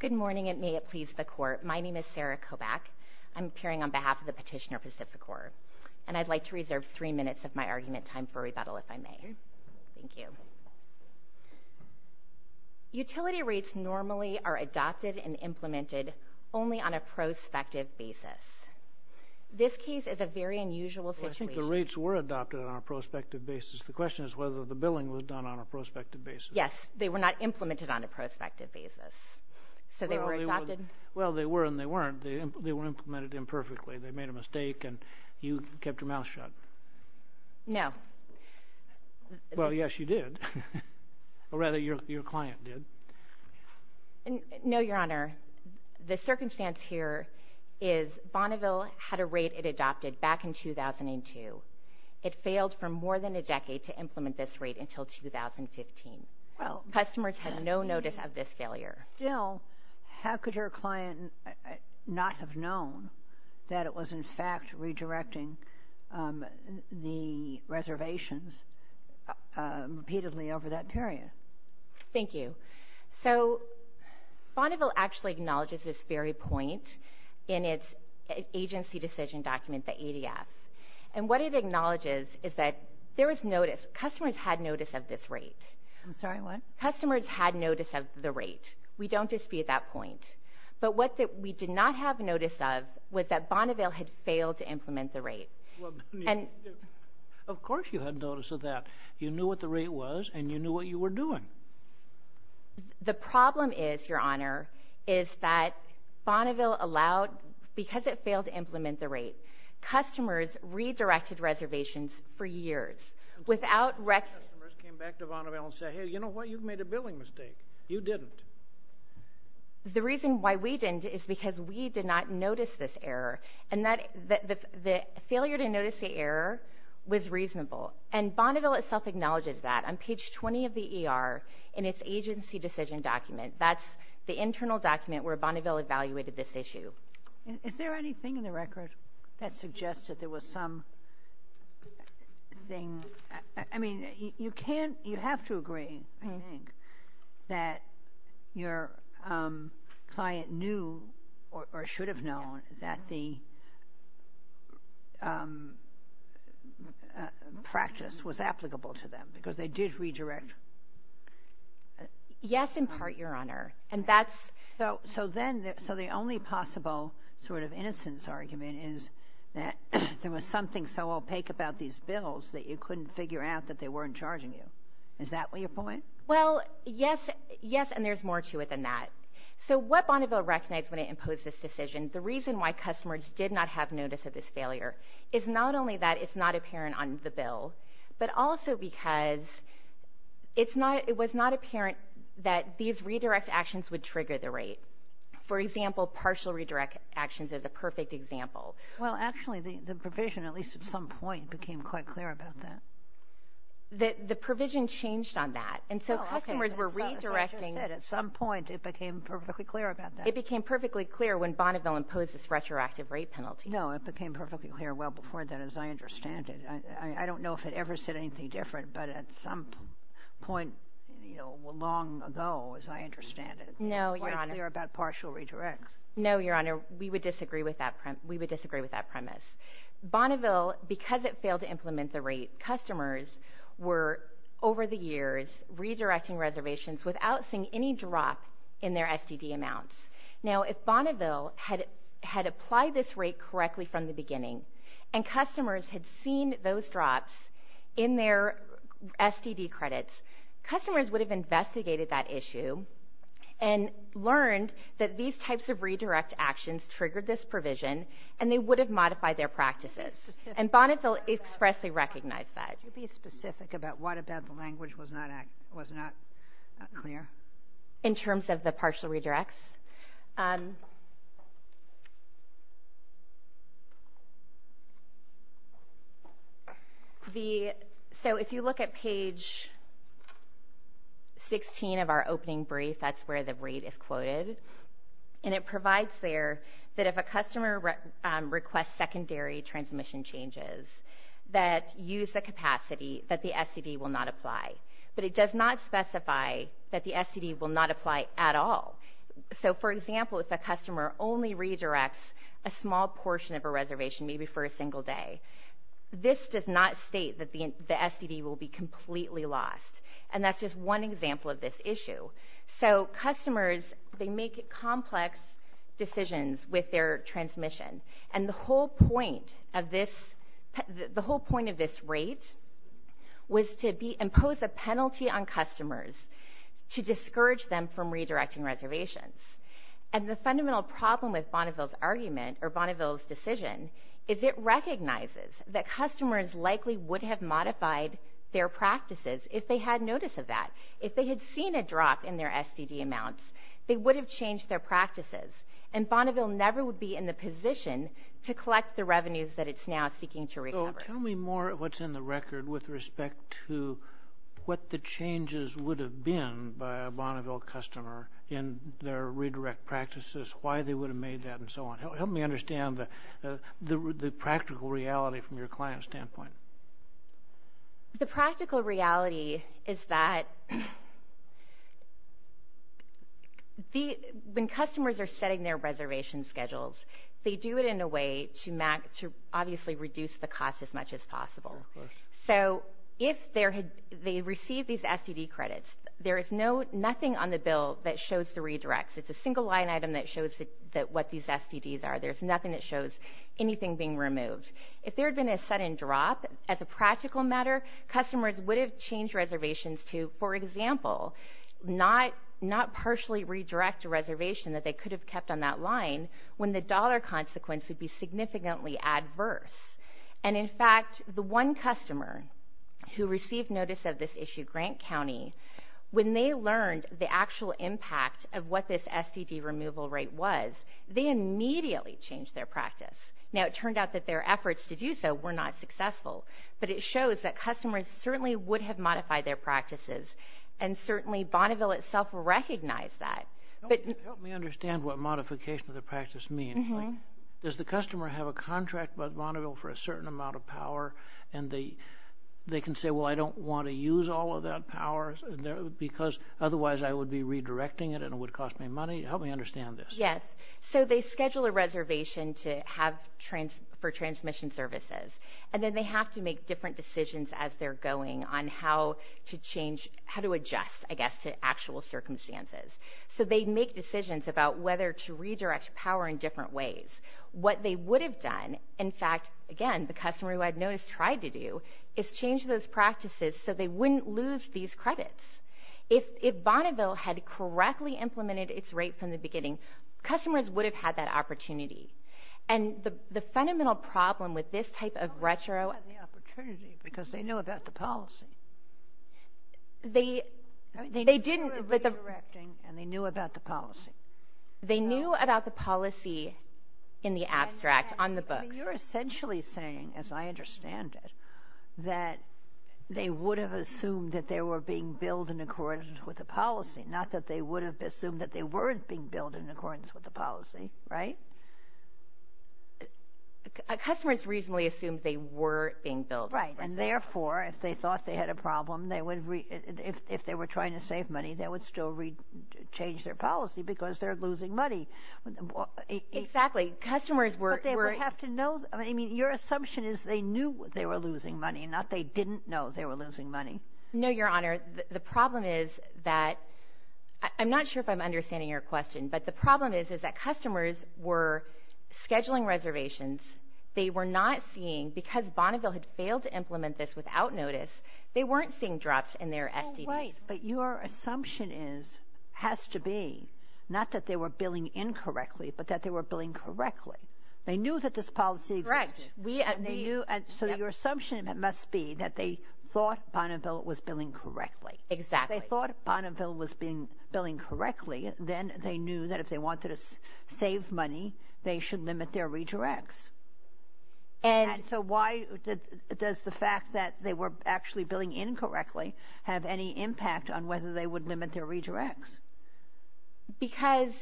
Good morning, and may it please the Court. My name is Sarah Kobach. I'm appearing on behalf of the petitioner, PacifiCorp, and I'd like to reserve three minutes of my argument time for rebuttal, if I may. Thank you. Utility rates normally are adopted and implemented only on a prospective basis. This case is a very unusual situation. I think the rates were adopted on a prospective basis. The question is whether the billing was done on a prospective basis. Yes. They were not implemented on a prospective basis. So they were adopted. Well, they were and they weren't. They were implemented imperfectly. They made a mistake and you kept your mouth shut. No. Well, yes, you did. Or rather, your client did. No, Your Honor. The circumstance here is Bonneville had a rate it adopted back in 2002. It failed for more than a decade to implement this rate until 2015. Customers had no notice of this failure. Still, how could your client not have known that it was, in fact, redirecting the reservations repeatedly over that period? Thank you. So Bonneville actually acknowledges this very point in its agency decision document, the ADF. And what it acknowledges is that there was notice. Customers had notice of this rate. I'm sorry, what? Customers had notice of the rate. We don't dispute that point. But what we did not have notice of was that Bonneville had failed to implement the rate. Of course you had notice of that. You knew what the rate was and you knew what you were doing. The problem is, Your Honor, is that Bonneville allowed, because it failed to implement the rate, customers redirected reservations for years without record. Customers came back to Bonneville and said, hey, you know what, you've made a billing mistake. You didn't. The reason why we didn't is because we did not notice this error. And the failure to notice the error was reasonable. And Bonneville itself acknowledges that. On page 20 of the agency decision document, that's the internal document where Bonneville evaluated this issue. Is there anything in the record that suggests that there was some thing? I mean, you have to agree, I think, that your client knew or should have known that the practice was applicable to them, because they did redirect. Yes, in part, Your Honor. And that's... So then, so the only possible sort of innocence argument is that there was something so opaque about these bills that you couldn't figure out that they weren't charging you. Is that what your point? Well, yes, yes, and there's more to it than that. So what Bonneville recognized when it imposed this decision, the reason why customers did not have notice of this failure, is not only that it's not apparent on the bill, but also because it's not, it was not apparent that these redirect actions would trigger the rate. For example, partial redirect actions is a perfect example. Well, actually, the provision, at least at some point, became quite clear about that. The provision changed on that. And so customers were redirecting... Well, okay, as I just said, at some point, it became perfectly clear about that. It became perfectly clear when Bonneville imposed this retroactive rate penalty. No, it became perfectly clear well before that, as I understand it. I don't know if it ever said anything different, but at some point, you know, long ago, as I understand it... No, Your Honor... ...it became quite clear about partial redirects. No, Your Honor, we would disagree with that premise. Bonneville, because it failed to implement the rate, customers were, over the years, redirecting reservations without seeing any drop in their STD amounts. Now, if Bonneville had applied this rate correctly from the beginning and customers had seen those drops in their STD credits, customers would have investigated that issue and learned that these types of redirect actions triggered this provision, and they would have modified their practices. And Bonneville expressly recognized that. Could you be specific about what about the language was not clear? In terms of the partial redirects? So, if you look at page 16 of our opening brief, that's where the rate is quoted, and it provides there that if a customer requests secondary transmission changes that use the capacity that the STD will not apply. But it does not specify that the STD will not apply at all. So, for example, if a customer only redirects a small portion of a reservation, maybe for a single day, this does not state that the STD will be completely lost, and that's just one example of this issue. So, customers, they make complex decisions with their transmission, and the whole point of this rate was to impose a penalty on customers to discourage them from redirecting reservations. And the fundamental problem with Bonneville's argument or Bonneville's decision is it recognizes that customers likely would have modified their practices if they had notice of that. If they had seen a drop in their STD amounts, they would have changed their practices, and Bonneville never would be in the position to collect the revenues that it's now seeking to recover. So, tell me more of what's in the record with respect to what the changes would have been by a Bonneville customer in their redirect practices, why they would have made that, and so on. Help me understand the practical reality from your client standpoint. The practical reality is that when customers are setting their reservation schedules, they do it in a way to obviously reduce the cost as much as possible. So, if they receive these STD credits, there is nothing on the bill that shows the redirects. It's a single line item that shows what these are. As a practical matter, customers would have changed reservations to, for example, not partially redirect a reservation that they could have kept on that line when the dollar consequence would be significantly adverse. And, in fact, the one customer who received notice of this issue, Grant County, when they learned the actual impact of what this STD removal rate was, they immediately changed their practice. Now, it turned out that their efforts to do so were not successful, but it shows that customers certainly would have modified their practices, and certainly Bonneville itself recognized that. Help me understand what modification of the practice means. Does the customer have a contract with Bonneville for a certain amount of power, and they can say, well, I don't want to use all of that power because otherwise I would be redirecting it and it would cost me money? Help me understand this. Yes. So they schedule a reservation for transmission services, and then they have to make different decisions as they're going on how to adjust, I guess, to actual circumstances. So they make decisions about whether to redirect power in different ways. What they would have done, in fact, again, the customer who had notice tried to do, is change those practices so they wouldn't lose these credits. If Bonneville had correctly implemented its rate from the customers would have had that opportunity. And the fundamental problem with this type They didn't have the opportunity because they knew about the policy. They didn't... They knew about the redirecting, and they knew about the policy. They knew about the policy in the abstract, on the books. You're essentially saying, as I understand it, that they would have assumed that they were being billed in accordance with the policy, not that they would have assumed that they were being billed in accordance with the policy, right? Customers reasonably assumed they were being billed. Right. And therefore, if they thought they had a problem, if they were trying to save money, they would still change their policy because they're losing money. Exactly. Customers were... But they would have to know. I mean, your assumption is they knew they were losing money, not they didn't know they were losing money. No, Your Honor. The problem is that, I'm not sure if I'm understanding your question, but the problem is that customers were scheduling reservations. They were not seeing... Because Bonneville had failed to implement this without notice, they weren't seeing drops in their SDVs. Oh, right. But your assumption is, has to be, not that they were billing incorrectly, but that they were billing correctly. They knew that this policy existed. Correct. And they knew... So your assumption must be that they thought Bonneville was billing correctly. Exactly. If they thought Bonneville was billing correctly, then they knew that if they wanted to save money, they should limit their redirects. And... And so why does the fact that they were actually billing incorrectly have any impact on whether they would limit their redirects? Because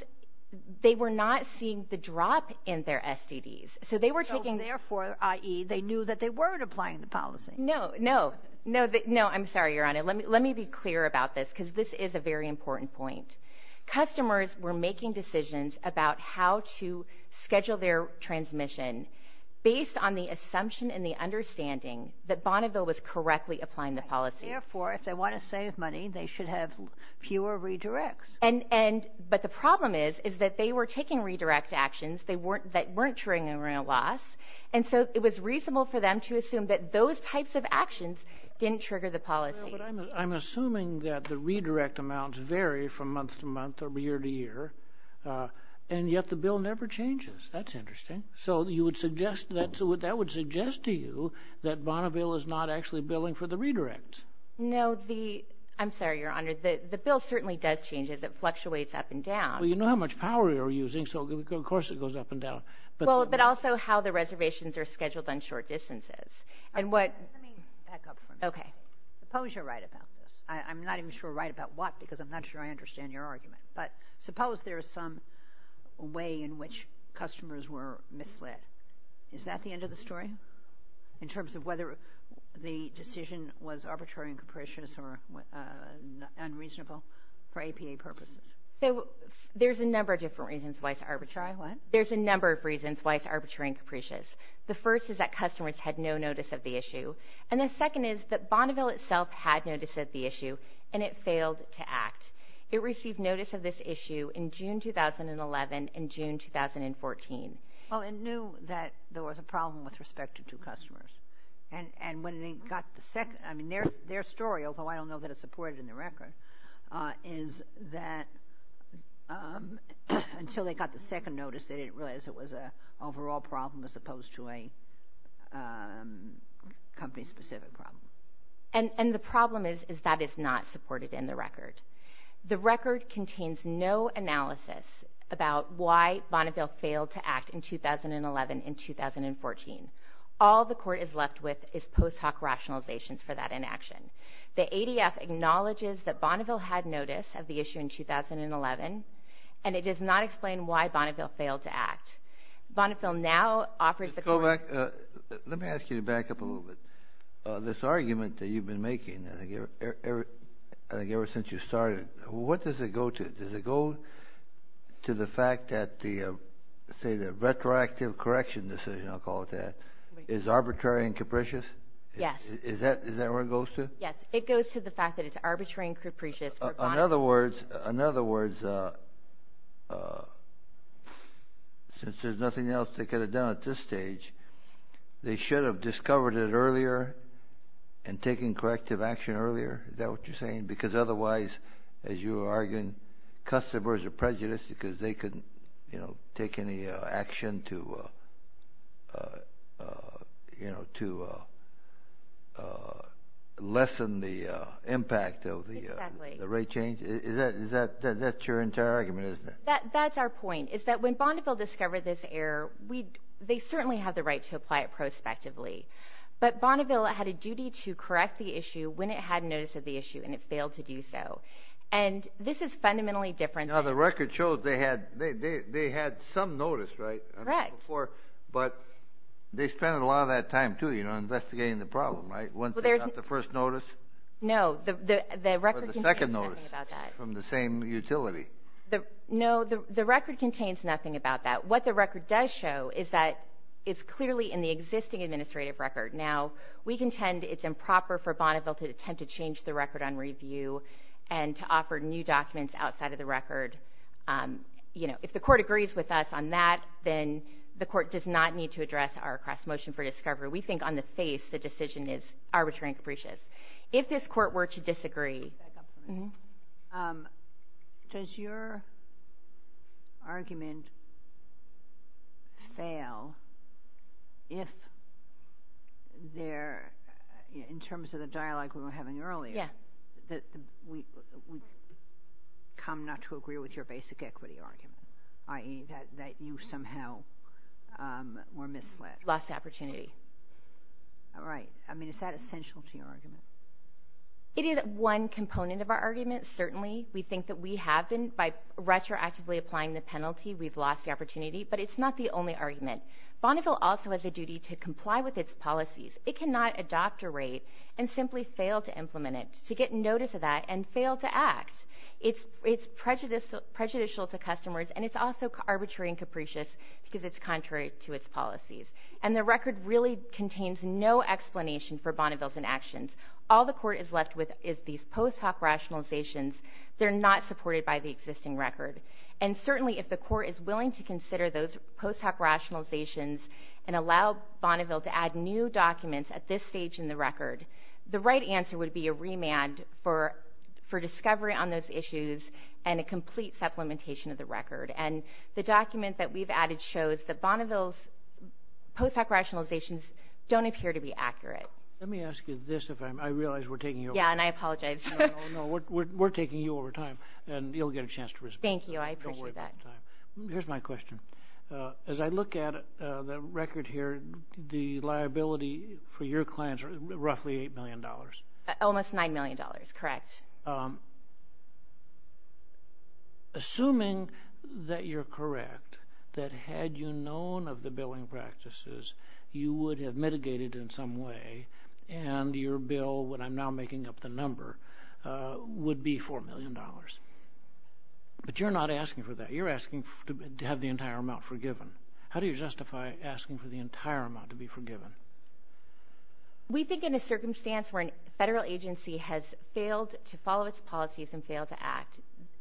they were not seeing the drop in their SDVs. So they were taking... So therefore, i.e., they knew that they weren't applying the policy. No, no. No. No, I'm sorry, Your Honor. Let me be clear about this, because this is a very important point. Customers were making decisions about how to schedule their transmission based on the assumption and the understanding that Bonneville was correctly applying the policy. Therefore, if they want to save money, they should have fewer redirects. And... But the problem is that they were taking redirect actions that weren't triggering a loss. And so it was reasonable for them to assume that those types of actions didn't trigger the policy. Well, but I'm assuming that the redirect amounts vary from month to month or year to year. And yet the bill never changes. That's interesting. So you would suggest that... That would suggest to you that Bonneville is not actually billing for the redirects. No, the... I'm sorry, Your Honor. The bill certainly does change as it fluctuates up and down. Well, you know how much power you're using, so of course it goes up and down. Well, but also how the reservations are scheduled on short distances. And what... Let me back up for a minute. Okay. Suppose you're right about this. I'm not even sure right about what, because I'm not sure I understand your argument. But suppose there is some way in which customers were misled. Is that the end of the story? In terms of whether the decision was arbitrary and capricious or unreasonable for APA purposes? So there's a number of different reasons why it's arbitrary. What? There's a number of reasons why it's arbitrary and capricious. The first is that customers had no notice of the issue. And the second is that Bonneville itself had notice of the issue, and it failed to act. It received notice of this issue in June 2011 and June 2014. Well, it knew that there was a problem with respect to two customers. And when they got the second... I mean, their story, although I don't know that it's reported in the record, is that until they got the second notice, they didn't realize it was an overall problem as opposed to a company-specific problem. And the problem is that it's not supported in the record. The record contains no analysis about why Bonneville failed to act in 2011 and 2014. All the court is left with is post hoc rationalizations for that inaction. The ADF acknowledges that Bonneville had notice of the issue in 2011, and it does not explain why Bonneville failed to act. Bonneville now offers the court... Let me ask you to back up a little bit. This argument that you've been making, I think ever since you started, what does it go to? Does it go to the fact that the, say, the retroactive correction decision, I'll call it that, is arbitrary and capricious? Yes. Is that where it goes to? Yes. It goes to the fact that it's arbitrary and capricious for Bonneville... In other words, since there's nothing else they could have done at this stage, they should have discovered it earlier and taken corrective action earlier? Is that what you're saying? Because otherwise, as you were arguing, customers are prejudiced because they couldn't take any action to lessen the impact of the rate change? Exactly. That's your entire argument, isn't it? That's our point, is that when Bonneville discovered this error, they certainly have the right to apply it prospectively, but Bonneville had a duty to correct the issue when it had notice of the issue, and it failed to do so. This is fundamentally different than... Now, the record shows they had some notice, right? Correct. But they spent a lot of that time, too, investigating the problem, right, once they got the first notice? The record contains nothing about that. Or the second notice from the same utility. No. The record contains nothing about that. What the record does show is that it's clearly in the existing administrative record. Now, we contend it's improper for Bonneville to attempt to change the record on review and to offer new documents outside of the record. If the court agrees with us on that, then the court does not need to address our cross-motion for discovery. We think on the face, the decision is arbitrary and capricious. If this court were to disagree... Back up for a minute. Does your argument fail if they're, in terms of the dialogue we were having earlier, that we've come not to agree with your basic equity argument, i.e., that you somehow were misled? Lost the opportunity. Right. I mean, is that essential to your argument? It is one component of our argument, certainly. We think that we have been, by retroactively applying the penalty, we've lost the opportunity. But it's not the only argument. Bonneville also has a duty to comply with its policies. It cannot adopt a rate and simply fail to implement it, to get notice of that, and fail to act. It's prejudicial to customers, and it's also arbitrary and capricious because it's contrary to its policies. And the record really contains no explanation for Bonneville's inactions. All the court is left with is these post hoc rationalizations. They're not supported by the existing record. And certainly, if the court is willing to consider those post hoc rationalizations and allow Bonneville to add new documents at this stage in the record, the right answer would be a remand for discovery on those issues and a complete supplementation of the record. And the document that we've added shows that Bonneville's post hoc rationalizations don't appear to be accurate. Let me ask you this, if I'm, I realize we're taking you over. Yeah, and I apologize. No, no, no. We're taking you over time, and you'll get a chance to respond. Thank you. I appreciate that. Don't worry about the time. Here's my question. As I look at the record here, the liability for your clients are roughly $8 million. Almost $9 million, correct. Assuming that you're correct, that had you known of the billing practices, you would have mitigated in some way, and your bill, what I'm now making up the number, would be $4 million. But you're not asking for that. You're asking to have the entire amount forgiven. How do you justify asking for the entire amount to be forgiven? We think in a circumstance where a federal agency has failed to follow its policies and failed to act,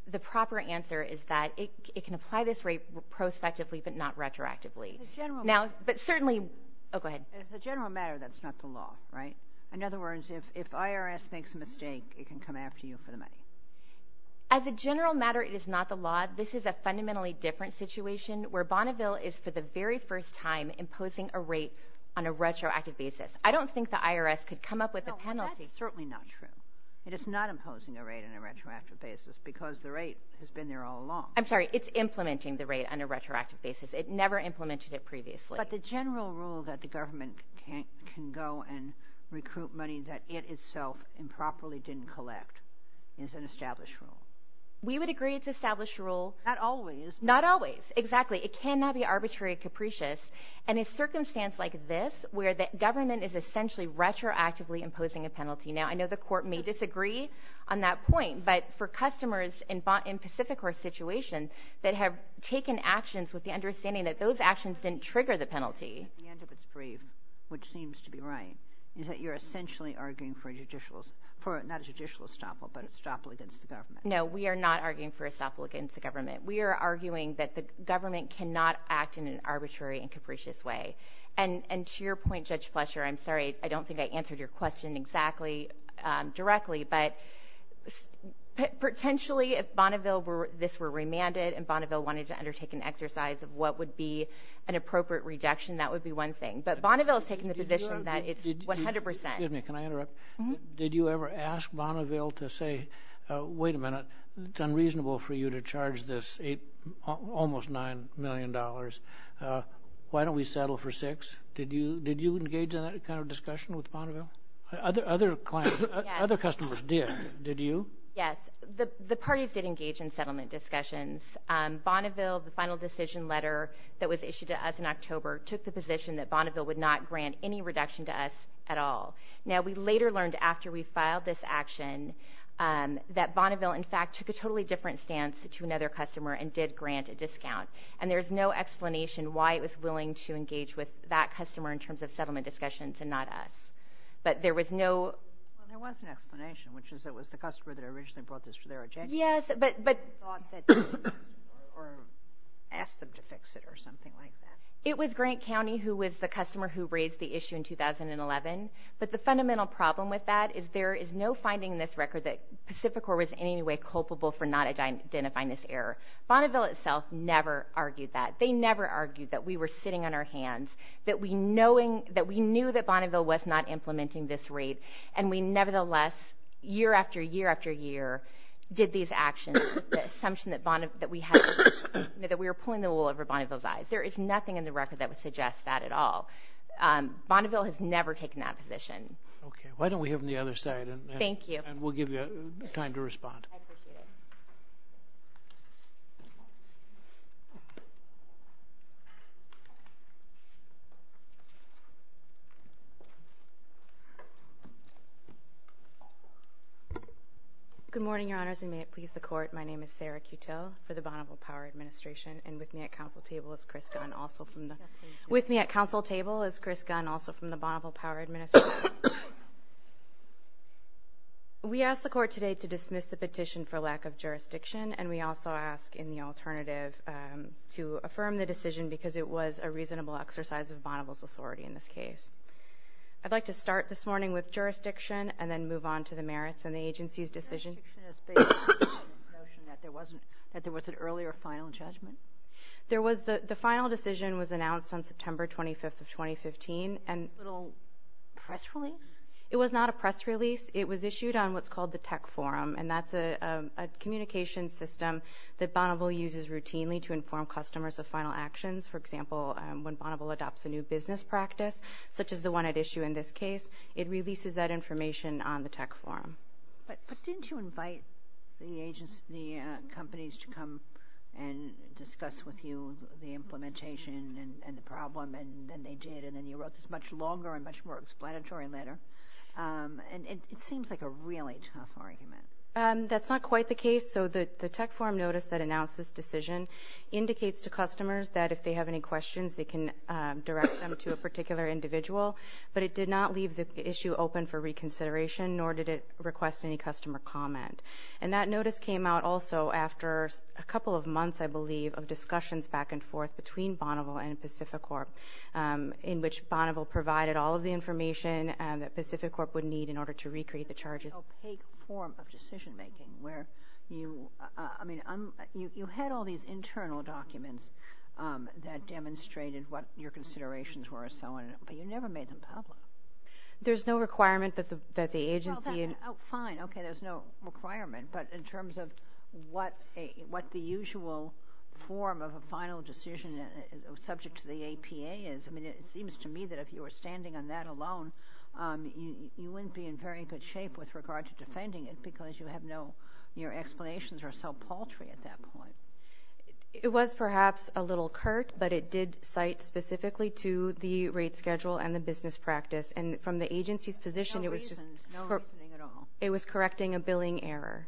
the proper answer is that it can apply this rate prospectively, but not retroactively. Now, but certainly, oh, go ahead. As a general matter, that's not the law, right? In other words, if IRS makes a mistake, it can come after you for the money. As a general matter, it is not the law. This is a fundamentally different situation, where Bonneville is, for the very first time, imposing a rate on a retroactive basis. I don't think the IRS could come up with a penalty. No, that's certainly not true. It is not imposing a rate on a retroactive basis, because the rate has been there all along. I'm sorry. It's implementing the rate on a retroactive basis. It never implemented it previously. But the general rule that the government can go and recruit money that it itself improperly didn't collect is an established rule. We would agree it's an established rule. Not always. Not always. Exactly. It cannot be arbitrary or capricious in a circumstance like this, where the government is essentially retroactively imposing a penalty. Now, I know the court may disagree on that point, but for customers in Pacific Coast situation that have taken actions with the understanding that those actions didn't trigger the penalty. At the end of its brief, which seems to be right, is that you're essentially arguing for a judicial, not a judicial estoppel, but an estoppel against the government. No, we are not arguing for estoppel against the government. We are arguing that the government cannot act in an arbitrary and capricious way. And to your point, Judge Fletcher, I'm sorry, I don't think I answered your question exactly directly, but potentially, if Bonneville, this were remanded, and Bonneville wanted to undertake an exercise of what would be an appropriate rejection, that would be one thing. But Bonneville has taken the position that it's 100%. Excuse me, can I interrupt? Did you ever ask Bonneville to say, wait a minute, it's unreasonable for you to charge this almost $9 million, why don't we settle for six? Did you engage in that kind of discussion with Bonneville? Other clients, other customers did. Did you? Yes. The parties did engage in settlement discussions. Bonneville, the final decision letter that was issued to us in October, took the position that Bonneville would not grant any reduction to us at all. Now, we later learned after we filed this action that Bonneville, in fact, took a totally different stance to another customer and did grant a discount. And there's no explanation why it was willing to engage with that customer in terms of settlement discussions and not us. But there was no... Well, there was an explanation, which is it was the customer that originally brought this to their attention. Yes, but... Or thought that... Or asked them to fix it or something like that. It was Grant County who was the customer who raised the issue in 2011. But the fundamental problem with that is there is no finding in this record that Pacificor was in any way culpable for not identifying this error. Bonneville itself never argued that. They never argued that we were sitting on our hands, that we knew that Bonneville was not implementing this rate, and we nevertheless, year after year after year, did these actions, there is nothing in the record that would suggest that at all. Bonneville has never taken that position. Okay. Why don't we hear from the other side and... Thank you. And we'll give you time to respond. I appreciate it. Good morning, Your Honors, and may it please the Court. My name is Sarah Cutill for the Bonneville Power Administration, and with me at council table is Chris Gunn, also from the... With me at council table is Chris Gunn, also from the Bonneville Power Administration. We ask the Court today to dismiss the petition for lack of jurisdiction, and we also ask in the alternative to affirm the decision because it was a reasonable exercise of Bonneville's authority in this case. I'd like to start this morning with jurisdiction and then move on to the merits and the agency's decision... Jurisdiction is based on the notion that there was an earlier final judgment? There was. The final decision was announced on September 25th of 2015, and... A little press release? It was not a press release. It was issued on what's called the tech forum, and that's a communication system that Bonneville uses routinely to inform customers of final actions. For example, when Bonneville adopts a new business practice, such as the one at issue in this case, it releases that information on the tech forum. But didn't you invite the companies to come and discuss with you the implementation and the problem, and then they did, and then you wrote this much longer and much more explanatory letter? And it seems like a really tough argument. That's not quite the case. So the tech forum notice that announced this decision indicates to customers that if they have any questions, they can direct them to a particular individual, but it did not leave the issue open for reconsideration, nor did it request any customer comment. And that notice came out also after a couple of months, I believe, of discussions back and forth between Bonneville and Pacificorp, in which Bonneville provided all of the information that Pacificorp would need in order to recreate the charges. It's an opaque form of decision-making, where you... I mean, you had all these internal documents that demonstrated what your considerations were, but you never made them public. There's no requirement that the agency... Oh, fine. Okay, there's no requirement. But in terms of what the usual form of a final decision subject to the APA is, I mean, it seems to me that if you were standing on that alone, you wouldn't be in very good shape with regard to defending it, because you have no... Your explanations are so paltry at that point. It was perhaps a little curt, but it did cite specifically to the rate schedule and the business practice. And from the agency's position, it was just... No reasoning at all. It was correcting a billing error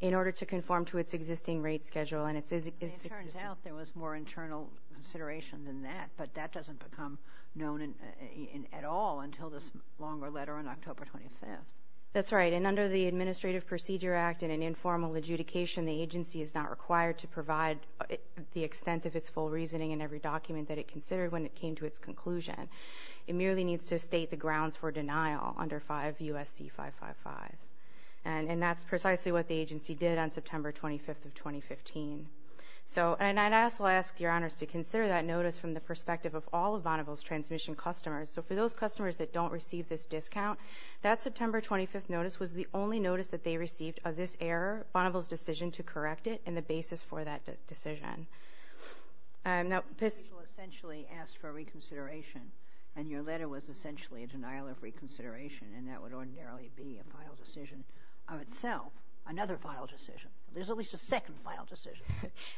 in order to conform to its existing rate schedule, and it's... It turns out there was more internal consideration than that, but that doesn't become known at all until this longer letter on October 25th. That's right. And under the Administrative Procedure Act and an informal adjudication, the agency is not required to provide the extent of its full reasoning in every document that it considered when it came to its conclusion. It merely needs to state the grounds for denial under 5 U.S.C. 555. And that's precisely what the agency did on September 25th of 2015. So and I also ask your honors to consider that notice from the perspective of all of Bonneville's transmission customers. So for those customers that don't receive this discount, that September 25th notice was the only notice that they received of this error, Bonneville's decision to correct it and the basis for that decision. And now... People essentially asked for reconsideration, and your letter was essentially a denial of reconsideration, and that would ordinarily be a final decision of itself. Another final decision. There's at least a second final decision.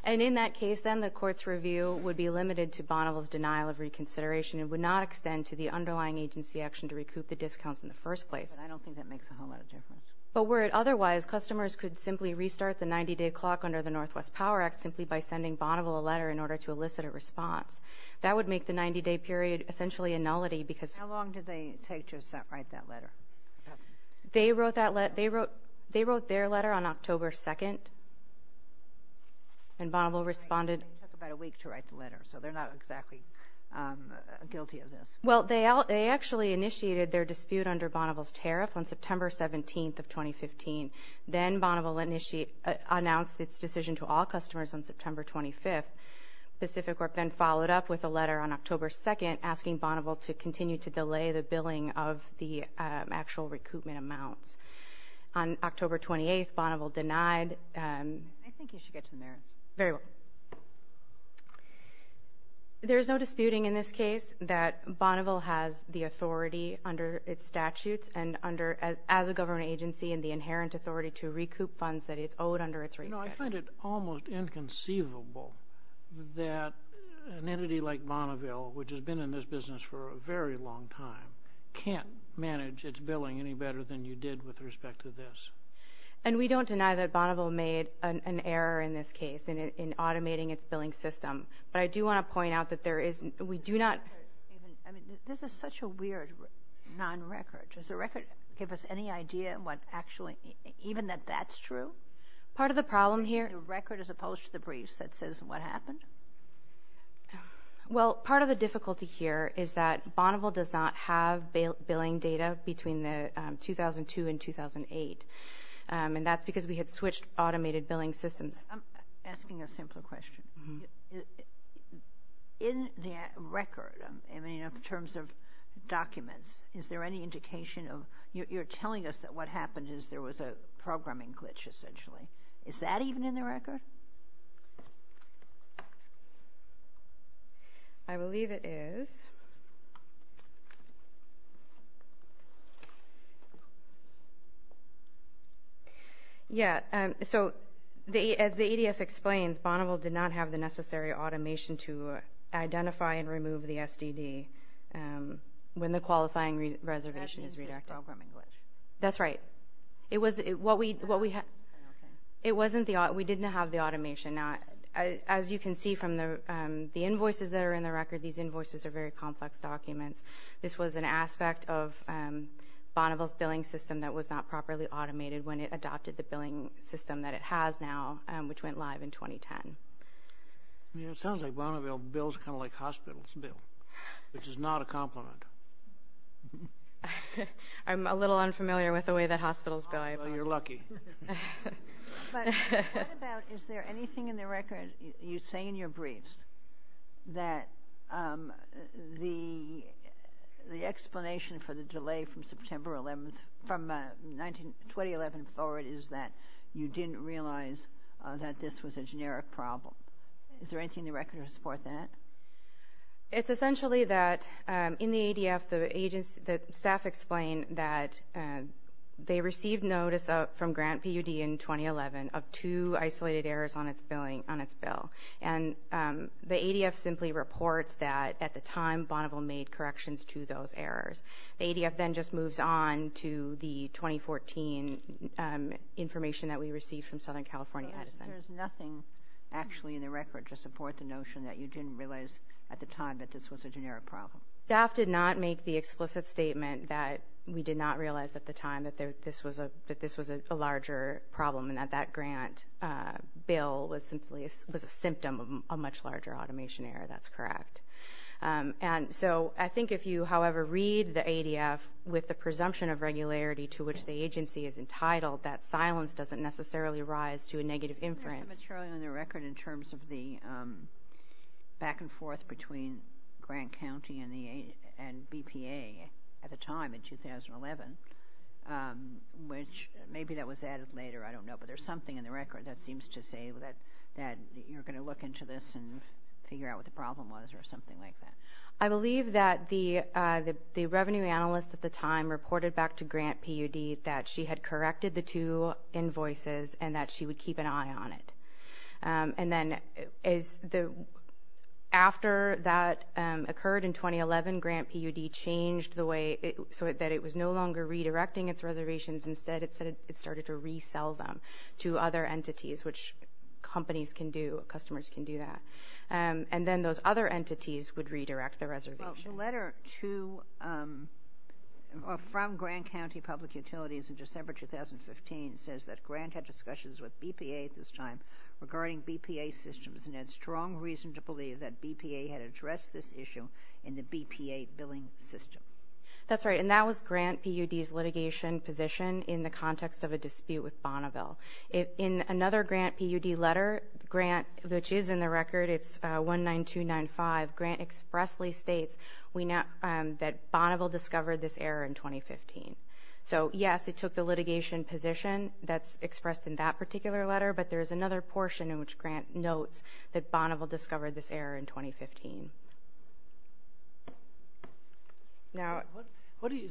And in that case, then, the court's review would be limited to Bonneville's denial of reconsideration and would not extend to the underlying agency action to recoup the discounts in the first place. But I don't think that makes a whole lot of difference. But were it otherwise, customers could simply restart the 90-day clock under the Northwest Power Act simply by sending Bonneville a letter in order to elicit a response. That would make the 90-day period essentially a nullity, because... How long did they take to write that letter? They wrote that letter... They wrote... They wrote their letter on October 2nd. And Bonneville responded... It took about a week to write the letter, so they're not exactly guilty of this. Well, they actually initiated their dispute under Bonneville's tariff on September 17th of 2015. Then, Bonneville announced its decision to all customers on September 25th. Pacificorp then followed up with a letter on October 2nd asking Bonneville to continue to delay the billing of the actual recoupment amounts. On October 28th, Bonneville denied... I think you should get to the merits. Very well. There's no disputing in this case that Bonneville has the authority under its statutes and under... As a government agency and the inherent authority to recoup funds that it's owed under its rates schedule. No, I find it almost inconceivable that an entity like Bonneville, which has been in this business for a very long time, can't manage its billing any better than you did with respect to this. And we don't deny that Bonneville made an error in this case in automating its billing system. But I do want to point out that there is... We do not... I mean, this is such a weird non-record. Does the record give us any idea what actually... Even that that's true? Part of the problem here... The record as opposed to the briefs that says what happened? Well, part of the difficulty here is that Bonneville does not have billing data between the 2002 and 2008. And that's because we had switched automated billing systems. I'm asking a simpler question. In the record, I mean, in terms of documents, is there any indication of... You're telling us that what happened is there was a programming glitch, essentially. Is that even in the record? I believe it is. Yeah, so as the EDF explains, Bonneville did not have the necessary automation to identify and remove the SDD when the qualifying reservation is redacted. That's right. It was... What we... Okay. It wasn't the... We didn't have the automation. Now, as you can see from the invoices that are in the record, these invoices are very complex documents. This was an aspect of Bonneville's billing system that was not properly automated when it adopted the billing system that it has now, which went live in 2010. I mean, it sounds like Bonneville bills kind of like hospitals bill, which is not a compliment. I'm a little unfamiliar with the way that hospitals bill. Well, you're lucky. But what about, is there anything in the record, you say in your briefs, that the explanation for the delay from September 11th, from 2011 forward, is that you didn't realize that this was a generic problem. Is there anything in the record to support that? It's essentially that in the ADF, the agency, the staff explain that they received notice from Grant PUD in 2011 of two isolated errors on its billing, on its bill. And the ADF simply reports that at the time Bonneville made corrections to those errors. The ADF then just moves on to the 2014 information that we received from Southern California Edison. So there's nothing actually in the record to support the notion that you didn't realize at the time that this was a generic problem. Staff did not make the explicit statement that we did not realize at the time that this was a larger problem and that that grant bill was simply a symptom of a much larger automation error. That's correct. And so I think if you, however, read the ADF with the presumption of regularity to which the agency is entitled, that silence doesn't necessarily rise to a negative inference. There's some material in the record in terms of the back and forth between Grant County and BPA at the time, in 2011, which maybe that was added later, I don't know, but there's something in the record that seems to say that you're going to look into this and figure out what the problem was or something like that. I believe that the revenue analyst at the time reported back to Grant PUD that she had corrected the two invoices and that she would keep an eye on it. And then after that occurred in 2011, Grant PUD changed the way so that it was no longer redirecting its reservations, instead it started to resell them to other entities, which companies can do, customers can do that. And then those other entities would redirect the reservation. Well, the letter to or from Grant County Public Utilities in December 2015 says that Grant had discussions with BPA at this time regarding BPA systems and had strong reason to believe that BPA had addressed this issue in the BPA billing system. That's right. And that was Grant PUD's litigation position in the context of a dispute with Bonneville. In another Grant PUD letter, Grant, which is in the record, it's 19295, Grant expressly states that Bonneville discovered this error in 2015. So yes, it took the litigation position that's expressed in that particular letter, but there's another portion in which Grant notes that Bonneville discovered this error in 2015. Now,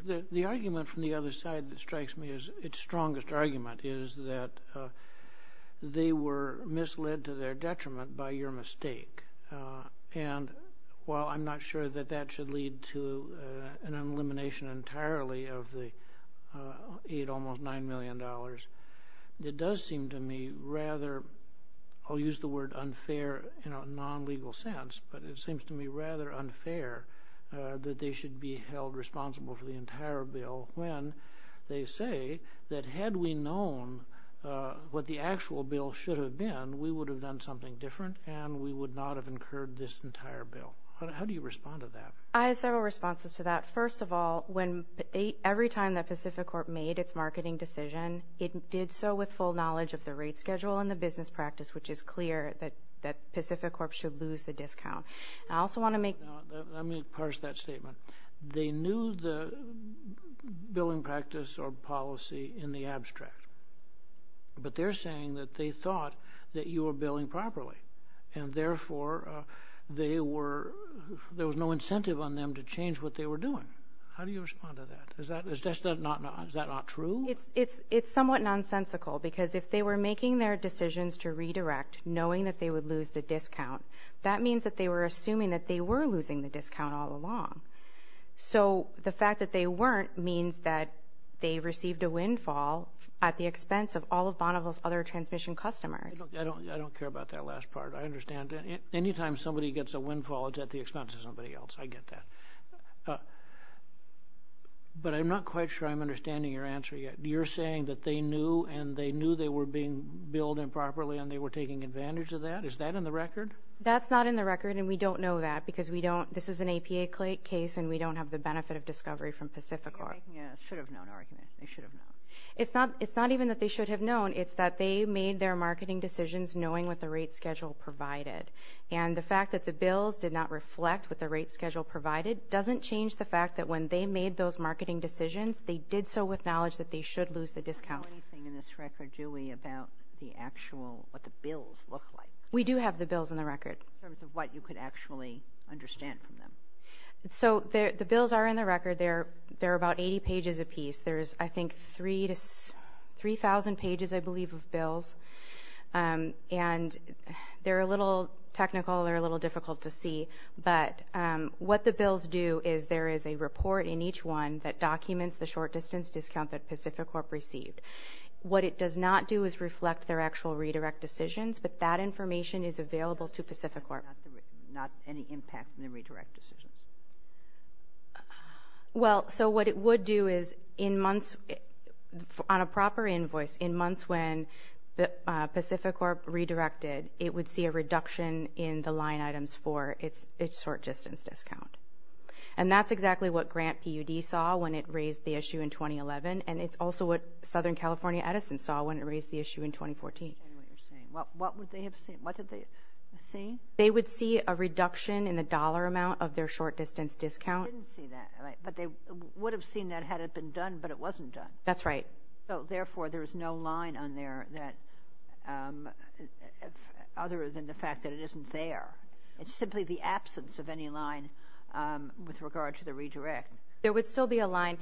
the argument from the other side that strikes me as its strongest argument is that they were misled to their detriment by your mistake. And while I'm not sure that that should lead to an elimination entirely of the aid, almost $9 million, it does seem to me rather, I'll use the word unfair in a non-legal sense, but it seems to me rather unfair that they should be held responsible for the entire bill when they say that had we known what the actual bill should have been, we would have done something different and we would not have incurred this entire bill. How do you respond to that? I have several responses to that. First of all, every time that Pacific Corp made its marketing decision, it did so with full knowledge of the rate schedule and the business practice, which is clear that Pacific Corp should lose the discount. I also want to make... Let me parse that statement. They knew the billing practice or policy in the abstract, but they're saying that they thought that you were billing properly, and therefore there was no incentive on them to change what they were doing. How do you respond to that? Is that not true? It's somewhat nonsensical, because if they were making their decisions to redirect, knowing that they would lose the discount, that means that they were assuming that they were losing the discount all along. So the fact that they weren't means that they received a windfall at the expense of all of Bonneville's other transmission customers. I don't care about that last part. I understand that. Any time somebody gets a windfall, it's at the expense of somebody else, I get that. But I'm not quite sure I'm understanding your answer yet. You're saying that they knew and they knew they were being billed improperly and they were taking advantage of that? Is that in the record? That's not in the record, and we don't know that, because this is an APA case and we don't have the benefit of discovery from Pacific Corp. You're making a should-have-known argument. They should have known. It's not even that they should have known. It's that they made their marketing decisions knowing what the rate schedule provided. And the fact that the bills did not reflect what the rate schedule provided doesn't change the fact that when they made those marketing decisions, they did so with knowledge that they should lose the discount. We don't know anything in this record, do we, about the actual, what the bills look like? We do have the bills in the record. In terms of what you could actually understand from them? So the bills are in the record. They're about 80 pages apiece. There's, I think, 3,000 pages, I believe, of bills. And they're a little technical, they're a little difficult to see. But what the bills do is there is a report in each one that documents the short-distance discount that Pacificorp received. What it does not do is reflect their actual redirect decisions, but that information is available to Pacificorp. Not any impact on the redirect decisions? Well, so what it would do is in months, on a proper invoice, in months when Pacificorp redirected, it would see a reduction in the line items for its short-distance discount. And that's exactly what Grant PUD saw when it raised the issue in 2011, and it's also what Southern California Edison saw when it raised the issue in 2014. What would they have seen? What did they see? They would see a reduction in the dollar amount of their short-distance discount. They didn't see that, right, but they would have seen that had it been done, but it wasn't done. That's right. So, therefore, there's no line on there that, other than the fact that it isn't there. It's simply the absence of any line with regard to the redirect. There would still be a line,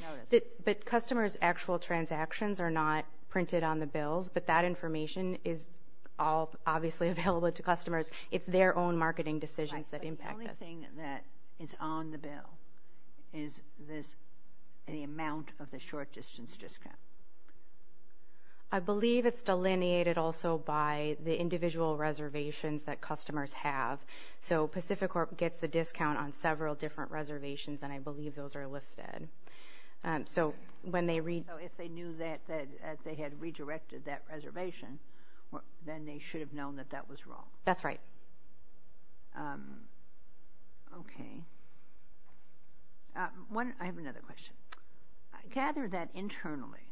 but customers' actual transactions are not printed on the bills, but that information is all obviously available to customers. It's their own marketing decisions that impact this. Right, but the only thing that is on the bill is this, the amount of the short-distance discount. I believe it's delineated also by the individual reservations that customers have. So, Pacificorp gets the discount on several different reservations, and I believe those are listed. So, when they read... So, if they knew that they had redirected that reservation, then they should have known that that was wrong. That's right. Okay. One... I have another question. I gathered that internally,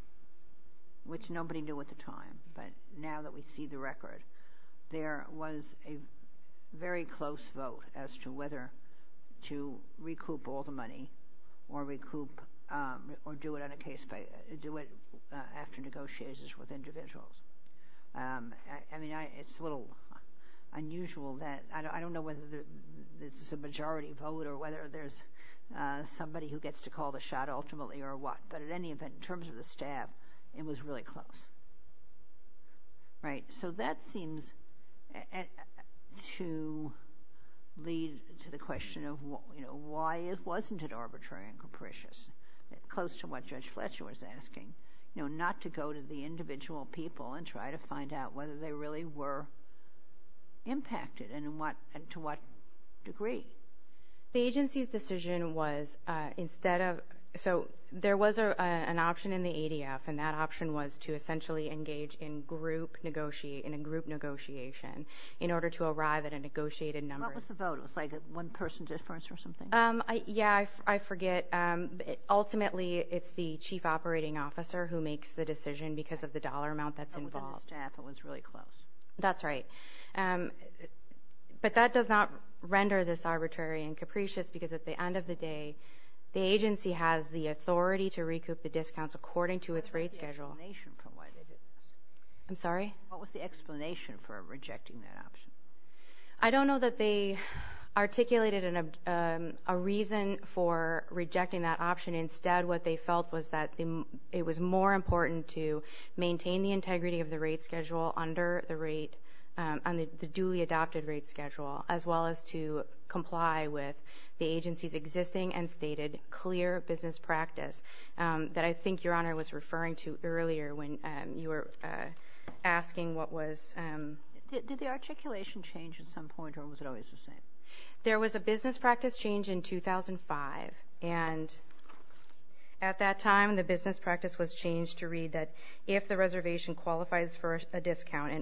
which nobody knew at the time, but now that we see the record, there was a very close vote as to whether to recoup all the money or recoup or do it on a case by... Do it after negotiations with individuals. I mean, it's a little unusual that... I don't know whether this is a majority vote or whether there's somebody who gets to call the shot ultimately or what, but at any event, in terms of the staff, it was really close. Right? So, that seems to lead to the question of why it wasn't an arbitrary and capricious, close to what Judge Fletcher was asking, not to go to the individual people and try to find out whether they really were impacted and to what degree. The agency's decision was instead of... So, there was an option in the ADF, and that option was to essentially engage in a group negotiation in order to arrive at a negotiated number. What was the vote? It was like a one-person difference or something? Yeah, I forget. Ultimately, it's the chief operating officer who makes the decision because of the dollar amount that's involved. But within the staff, it was really close. That's right. But that does not render this arbitrary and capricious because at the end of the day, the agency has the authority to recoup the discounts according to its rate schedule. What was the explanation for why they did this? I'm sorry? What was the explanation for rejecting that option? I don't know that they articulated a reason for rejecting that option. Instead, what they felt was that it was more important to maintain the integrity of the rate schedule under the rate, on the duly adopted rate schedule, as well as to comply with the agency's existing and stated clear business practice that I think Your Honor was referring to earlier when you were asking what was... Did the articulation change at some point, or was it always the same? There was a business practice change in 2005, and at that time, the business practice was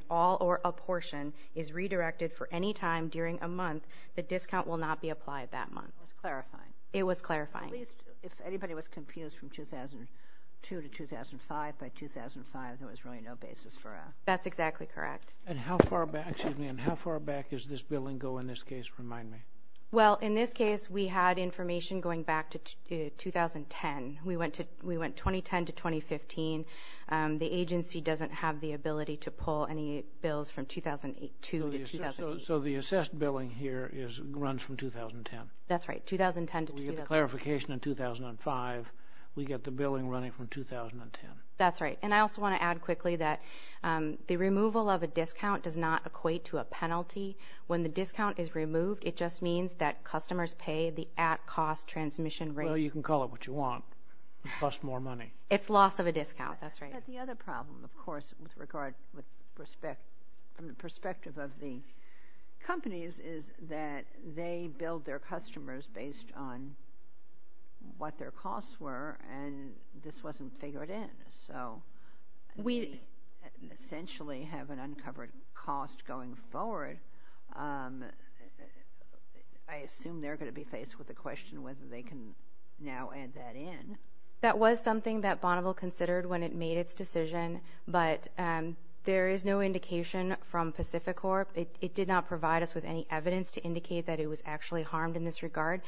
all or a portion is redirected for any time during a month, the discount will not be applied that month. It was clarifying? It was clarifying. At least, if anybody was confused from 2002 to 2005, by 2005, there was really no basis for a... That's exactly correct. And how far back, excuse me, and how far back does this billing go in this case, remind me? Well, in this case, we had information going back to 2010. We went 2010 to 2015. The agency doesn't have the ability to pull any bills from 2002 to 2015. So the assessed billing here runs from 2010? That's right, 2010 to 2015. We get the clarification in 2005, we get the billing running from 2010? That's right. And I also want to add quickly that the removal of a discount does not equate to a penalty. When the discount is removed, it just means that customers pay the at-cost transmission rate. Well, you can call it what you want, plus more money. It's loss of a discount. That's right. But the other problem, of course, with regard, from the perspective of the companies, is that they billed their customers based on what their costs were, and this wasn't figured in. So we essentially have an uncovered cost going forward. I assume they're going to be faced with the question whether they can now add that in. That was something that Bonneville considered when it made its decision, but there is no indication from Pacificorp. It did not provide us with any evidence to indicate that it was actually harmed in this regard.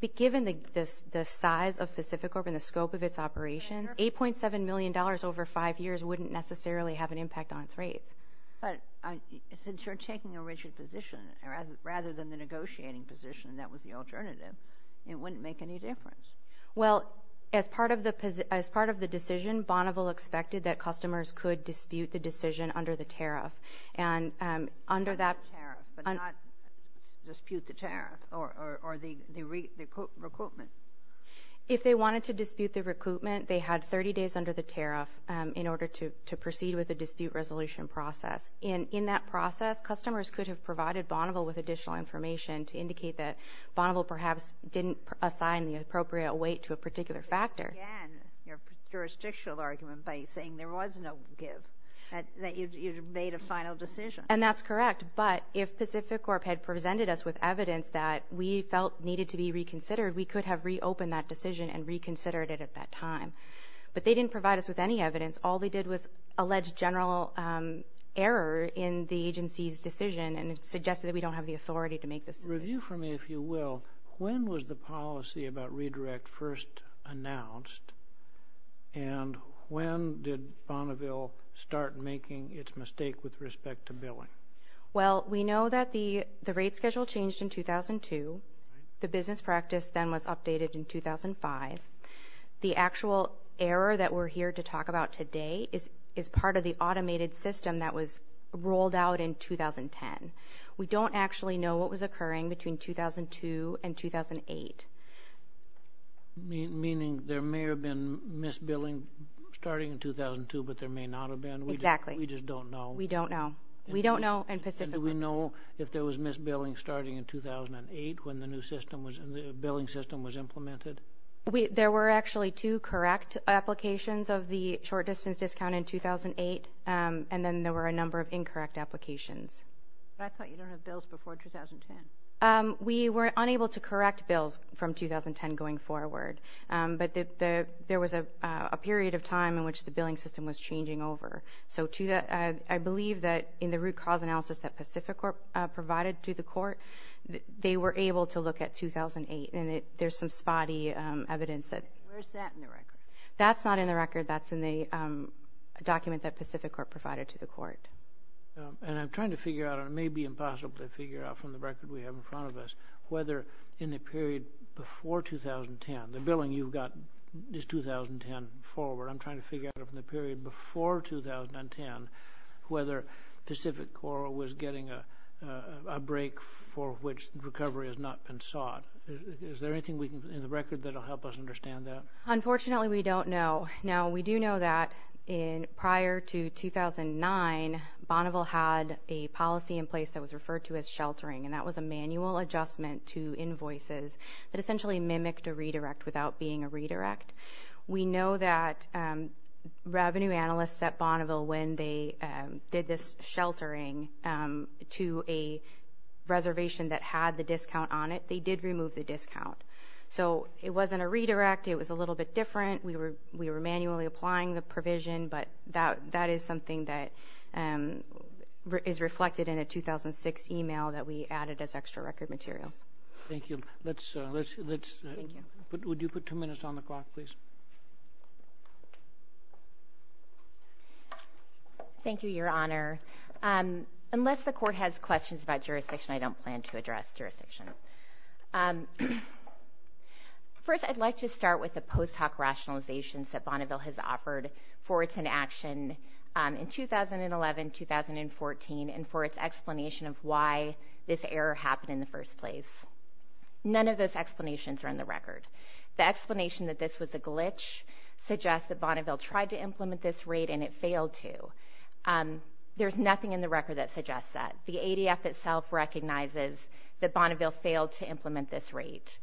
But given the size of Pacificorp and the scope of its operations, $8.7 million over five years wouldn't necessarily have an impact on its rates. But since you're taking a rigid position, rather than the negotiating position, that was the alternative, it wouldn't make any difference. Well, as part of the decision, Bonneville expected that customers could dispute the decision under the tariff. Under the tariff, but not dispute the tariff or the recoupment? If they wanted to dispute the recoupment, they had 30 days under the tariff in order to proceed with the dispute resolution process. In that process, customers could have provided Bonneville with additional information to factor. Again, your jurisdictional argument by saying there was no give, that you made a final decision. And that's correct, but if Pacificorp had presented us with evidence that we felt needed to be reconsidered, we could have reopened that decision and reconsidered it at that time. But they didn't provide us with any evidence. All they did was allege general error in the agency's decision and suggested that we don't have the authority to make this decision. Review for me if you will, when was the policy about redirect first announced and when did Bonneville start making its mistake with respect to billing? Well, we know that the rate schedule changed in 2002. The business practice then was updated in 2005. The actual error that we're here to talk about today is part of the automated system that was rolled out in 2010. We don't actually know what was occurring between 2002 and 2008. Meaning there may have been misbilling starting in 2002, but there may not have been? Exactly. We just don't know. We don't know. We don't know and Pacificorp doesn't. Do we know if there was misbilling starting in 2008 when the new system, the billing system was implemented? There were actually two correct applications of the short distance discount in 2008 and then there were a number of incorrect applications. But I thought you don't have bills before 2010? We were unable to correct bills from 2010 going forward, but there was a period of time in which the billing system was changing over. So I believe that in the root cause analysis that Pacificorp provided to the court, they were able to look at 2008 and there's some spotty evidence that... Where's that in the record? That's not in the record. That's in the document that Pacificorp provided to the court. And I'm trying to figure out, and it may be impossible to figure out from the record we have in front of us, whether in the period before 2010, the billing you've got is 2010 forward. I'm trying to figure out from the period before 2010 whether Pacificorp was getting a break for which recovery has not been sought. Is there anything in the record that will help us understand that? Unfortunately, we don't know. We do know that prior to 2009, Bonneville had a policy in place that was referred to as sheltering, and that was a manual adjustment to invoices that essentially mimicked a redirect without being a redirect. We know that revenue analysts at Bonneville, when they did this sheltering to a reservation that had the discount on it, they did remove the discount. So it wasn't a redirect. It was a little bit different. We were manually applying the provision, but that is something that is reflected in a 2006 email that we added as extra record materials. Thank you. Let's... Thank you. Would you put two minutes on the clock, please? Thank you, Your Honor. Unless the court has questions about jurisdiction, I don't plan to address jurisdiction. First, I'd like to start with the post hoc rationalizations that Bonneville has offered for its inaction in 2011, 2014, and for its explanation of why this error happened in the first place. None of those explanations are in the record. The explanation that this was a glitch suggests that Bonneville tried to implement this rate and it failed to. There's nothing in the record that suggests that. The ADF itself recognizes that Bonneville failed to implement this rate.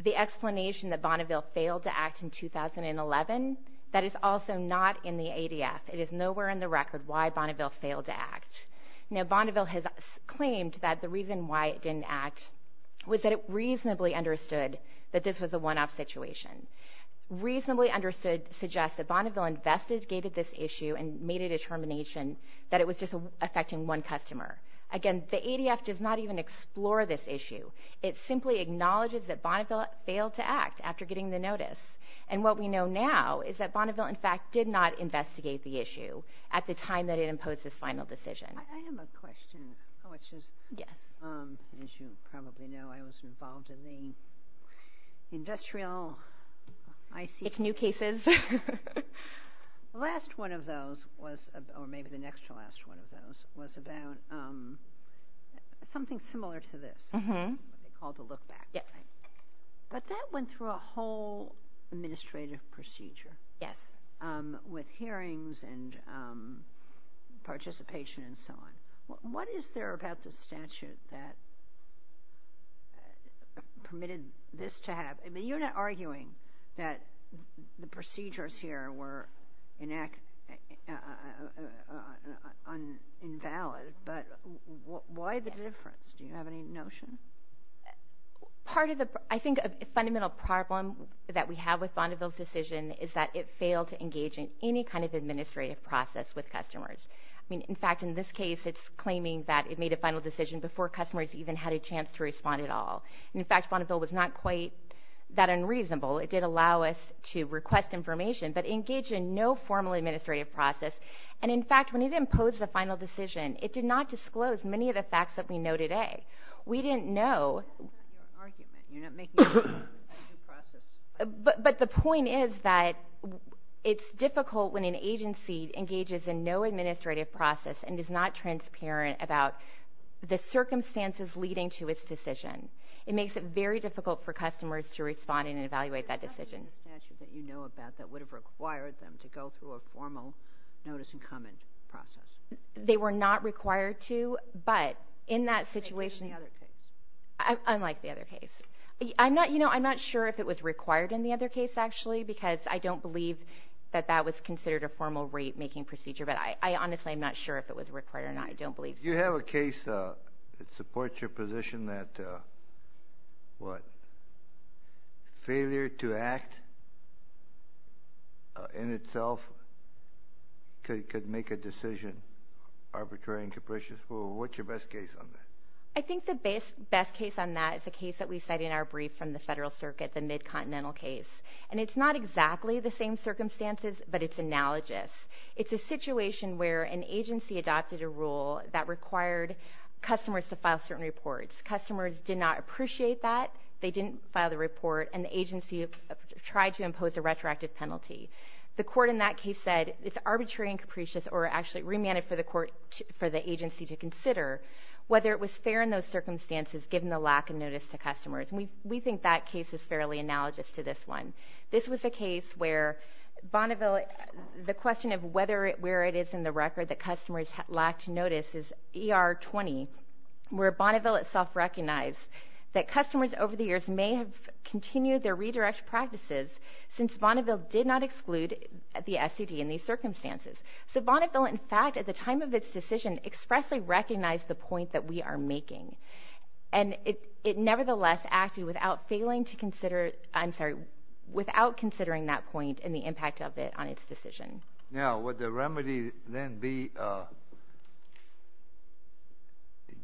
The explanation that Bonneville failed to act in 2011, that is also not in the ADF. It is nowhere in the record why Bonneville failed to act. Now, Bonneville has claimed that the reason why it didn't act was that it reasonably understood that this was a one-off situation. Reasonably understood suggests that Bonneville investigated this issue and made a determination that it was just affecting one customer. Again, the ADF does not even explore this issue. It simply acknowledges that Bonneville failed to act after getting the notice. And what we know now is that Bonneville, in fact, did not investigate the issue at the time that it imposed this final decision. I have a question, which is, as you probably know, I was involved in the industrial I.C. New cases. The last one of those was, or maybe the next to last one of those, was about something similar to this. Mm-hmm. What they call the look-back. Yes. But that went through a whole administrative procedure. Yes. With hearings and participation and so on. What is there about the statute that permitted this to happen? I mean, you're not arguing that the procedures here were invalid, but why the difference? Do you have any notion? I think a fundamental problem that we have with Bonneville's decision is that it failed to engage in any kind of administrative process with customers. I mean, in fact, in this case, it's claiming that it made a final decision before customers even had a chance to respond at all. And, in fact, Bonneville was not quite that unreasonable. It did allow us to request information, but engage in no formal administrative process. And, in fact, when it imposed the final decision, it did not disclose many of the facts that we know today. We didn't know. That's not your argument. You're not making a new process. But the point is that it's difficult when an agency engages in no administrative process and is not transparent about the circumstances leading to its decision. It makes it very difficult for customers to respond and evaluate that decision. There's nothing in the statute that you know about that would have required them to go through a formal notice-and-comment process. They were not required to, but in that situation... Unlike the other case. Unlike the other case. I'm not sure if it was required in the other case, actually, because I don't believe that that was considered a formal rate-making procedure, but I honestly am not sure if it was required or not. I don't believe so. Do you have a case that supports your position that, what, failure to act in itself could make a decision arbitrary and capricious? What's your best case on that? I think the best case on that is a case that we cite in our brief from the Federal Circuit, the Mid-Continental case. And it's not exactly the same circumstances, but it's analogous. It's a situation where an agency adopted a rule that required customers to file certain reports. Customers did not appreciate that. They didn't file the report, and the agency tried to impose a retroactive penalty. The court in that case said it's arbitrary and capricious, or actually remanded for the agency to consider, whether it was fair in those circumstances, given the lack of notice to customers. And we think that case is fairly analogous to this one. This was a case where Bonneville – the question of whether – where it is in the record that customers lacked notice is ER20, where Bonneville itself recognized that customers over the years may have continued their redirected practices since Bonneville did not exclude the SCD in these circumstances. So Bonneville, in fact, at the time of its decision, expressly recognized the point that we are making. And it nevertheless acted without failing to consider – I'm sorry, without considering that point and the impact of it on its decision. Now, would the remedy then be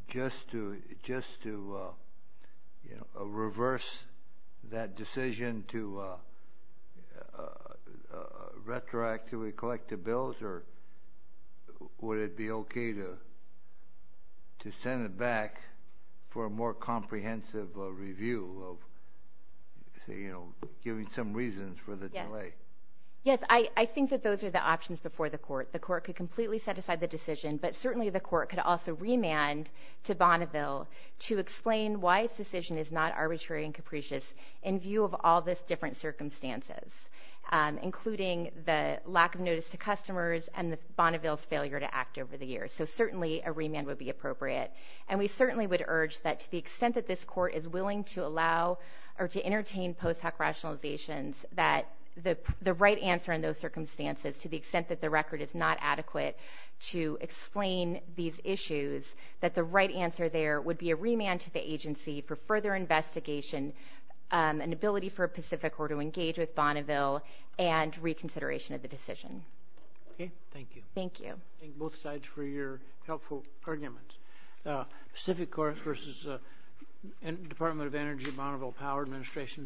just to – just to, you know, reverse that decision to retroactively collect the bills, or would it be okay to send it back for a more comprehensive review of, say, you know, giving some reasons for the delay? Yes. Yes, I think that those are the options before the court. The court could completely set aside the decision, but certainly the court could also remand to Bonneville to explain why its decision is not arbitrary and capricious in view of all these different circumstances, including the lack of notice to customers and Bonneville's failure to act over the years. So certainly a remand would be appropriate. And we certainly would urge that to the extent that this court is willing to allow or to entertain post hoc rationalizations, that the right answer in those circumstances, to the extent that the record is not adequate to explain these issues, that the right answer there would be a remand to the agency for further investigation, an ability for Pacific Corps to engage with Bonneville, and reconsideration of the decision. Okay. Thank you. Thank you. Thank both sides for your helpful arguments. Pacific Corps versus Department of Energy Bonneville Power Administration.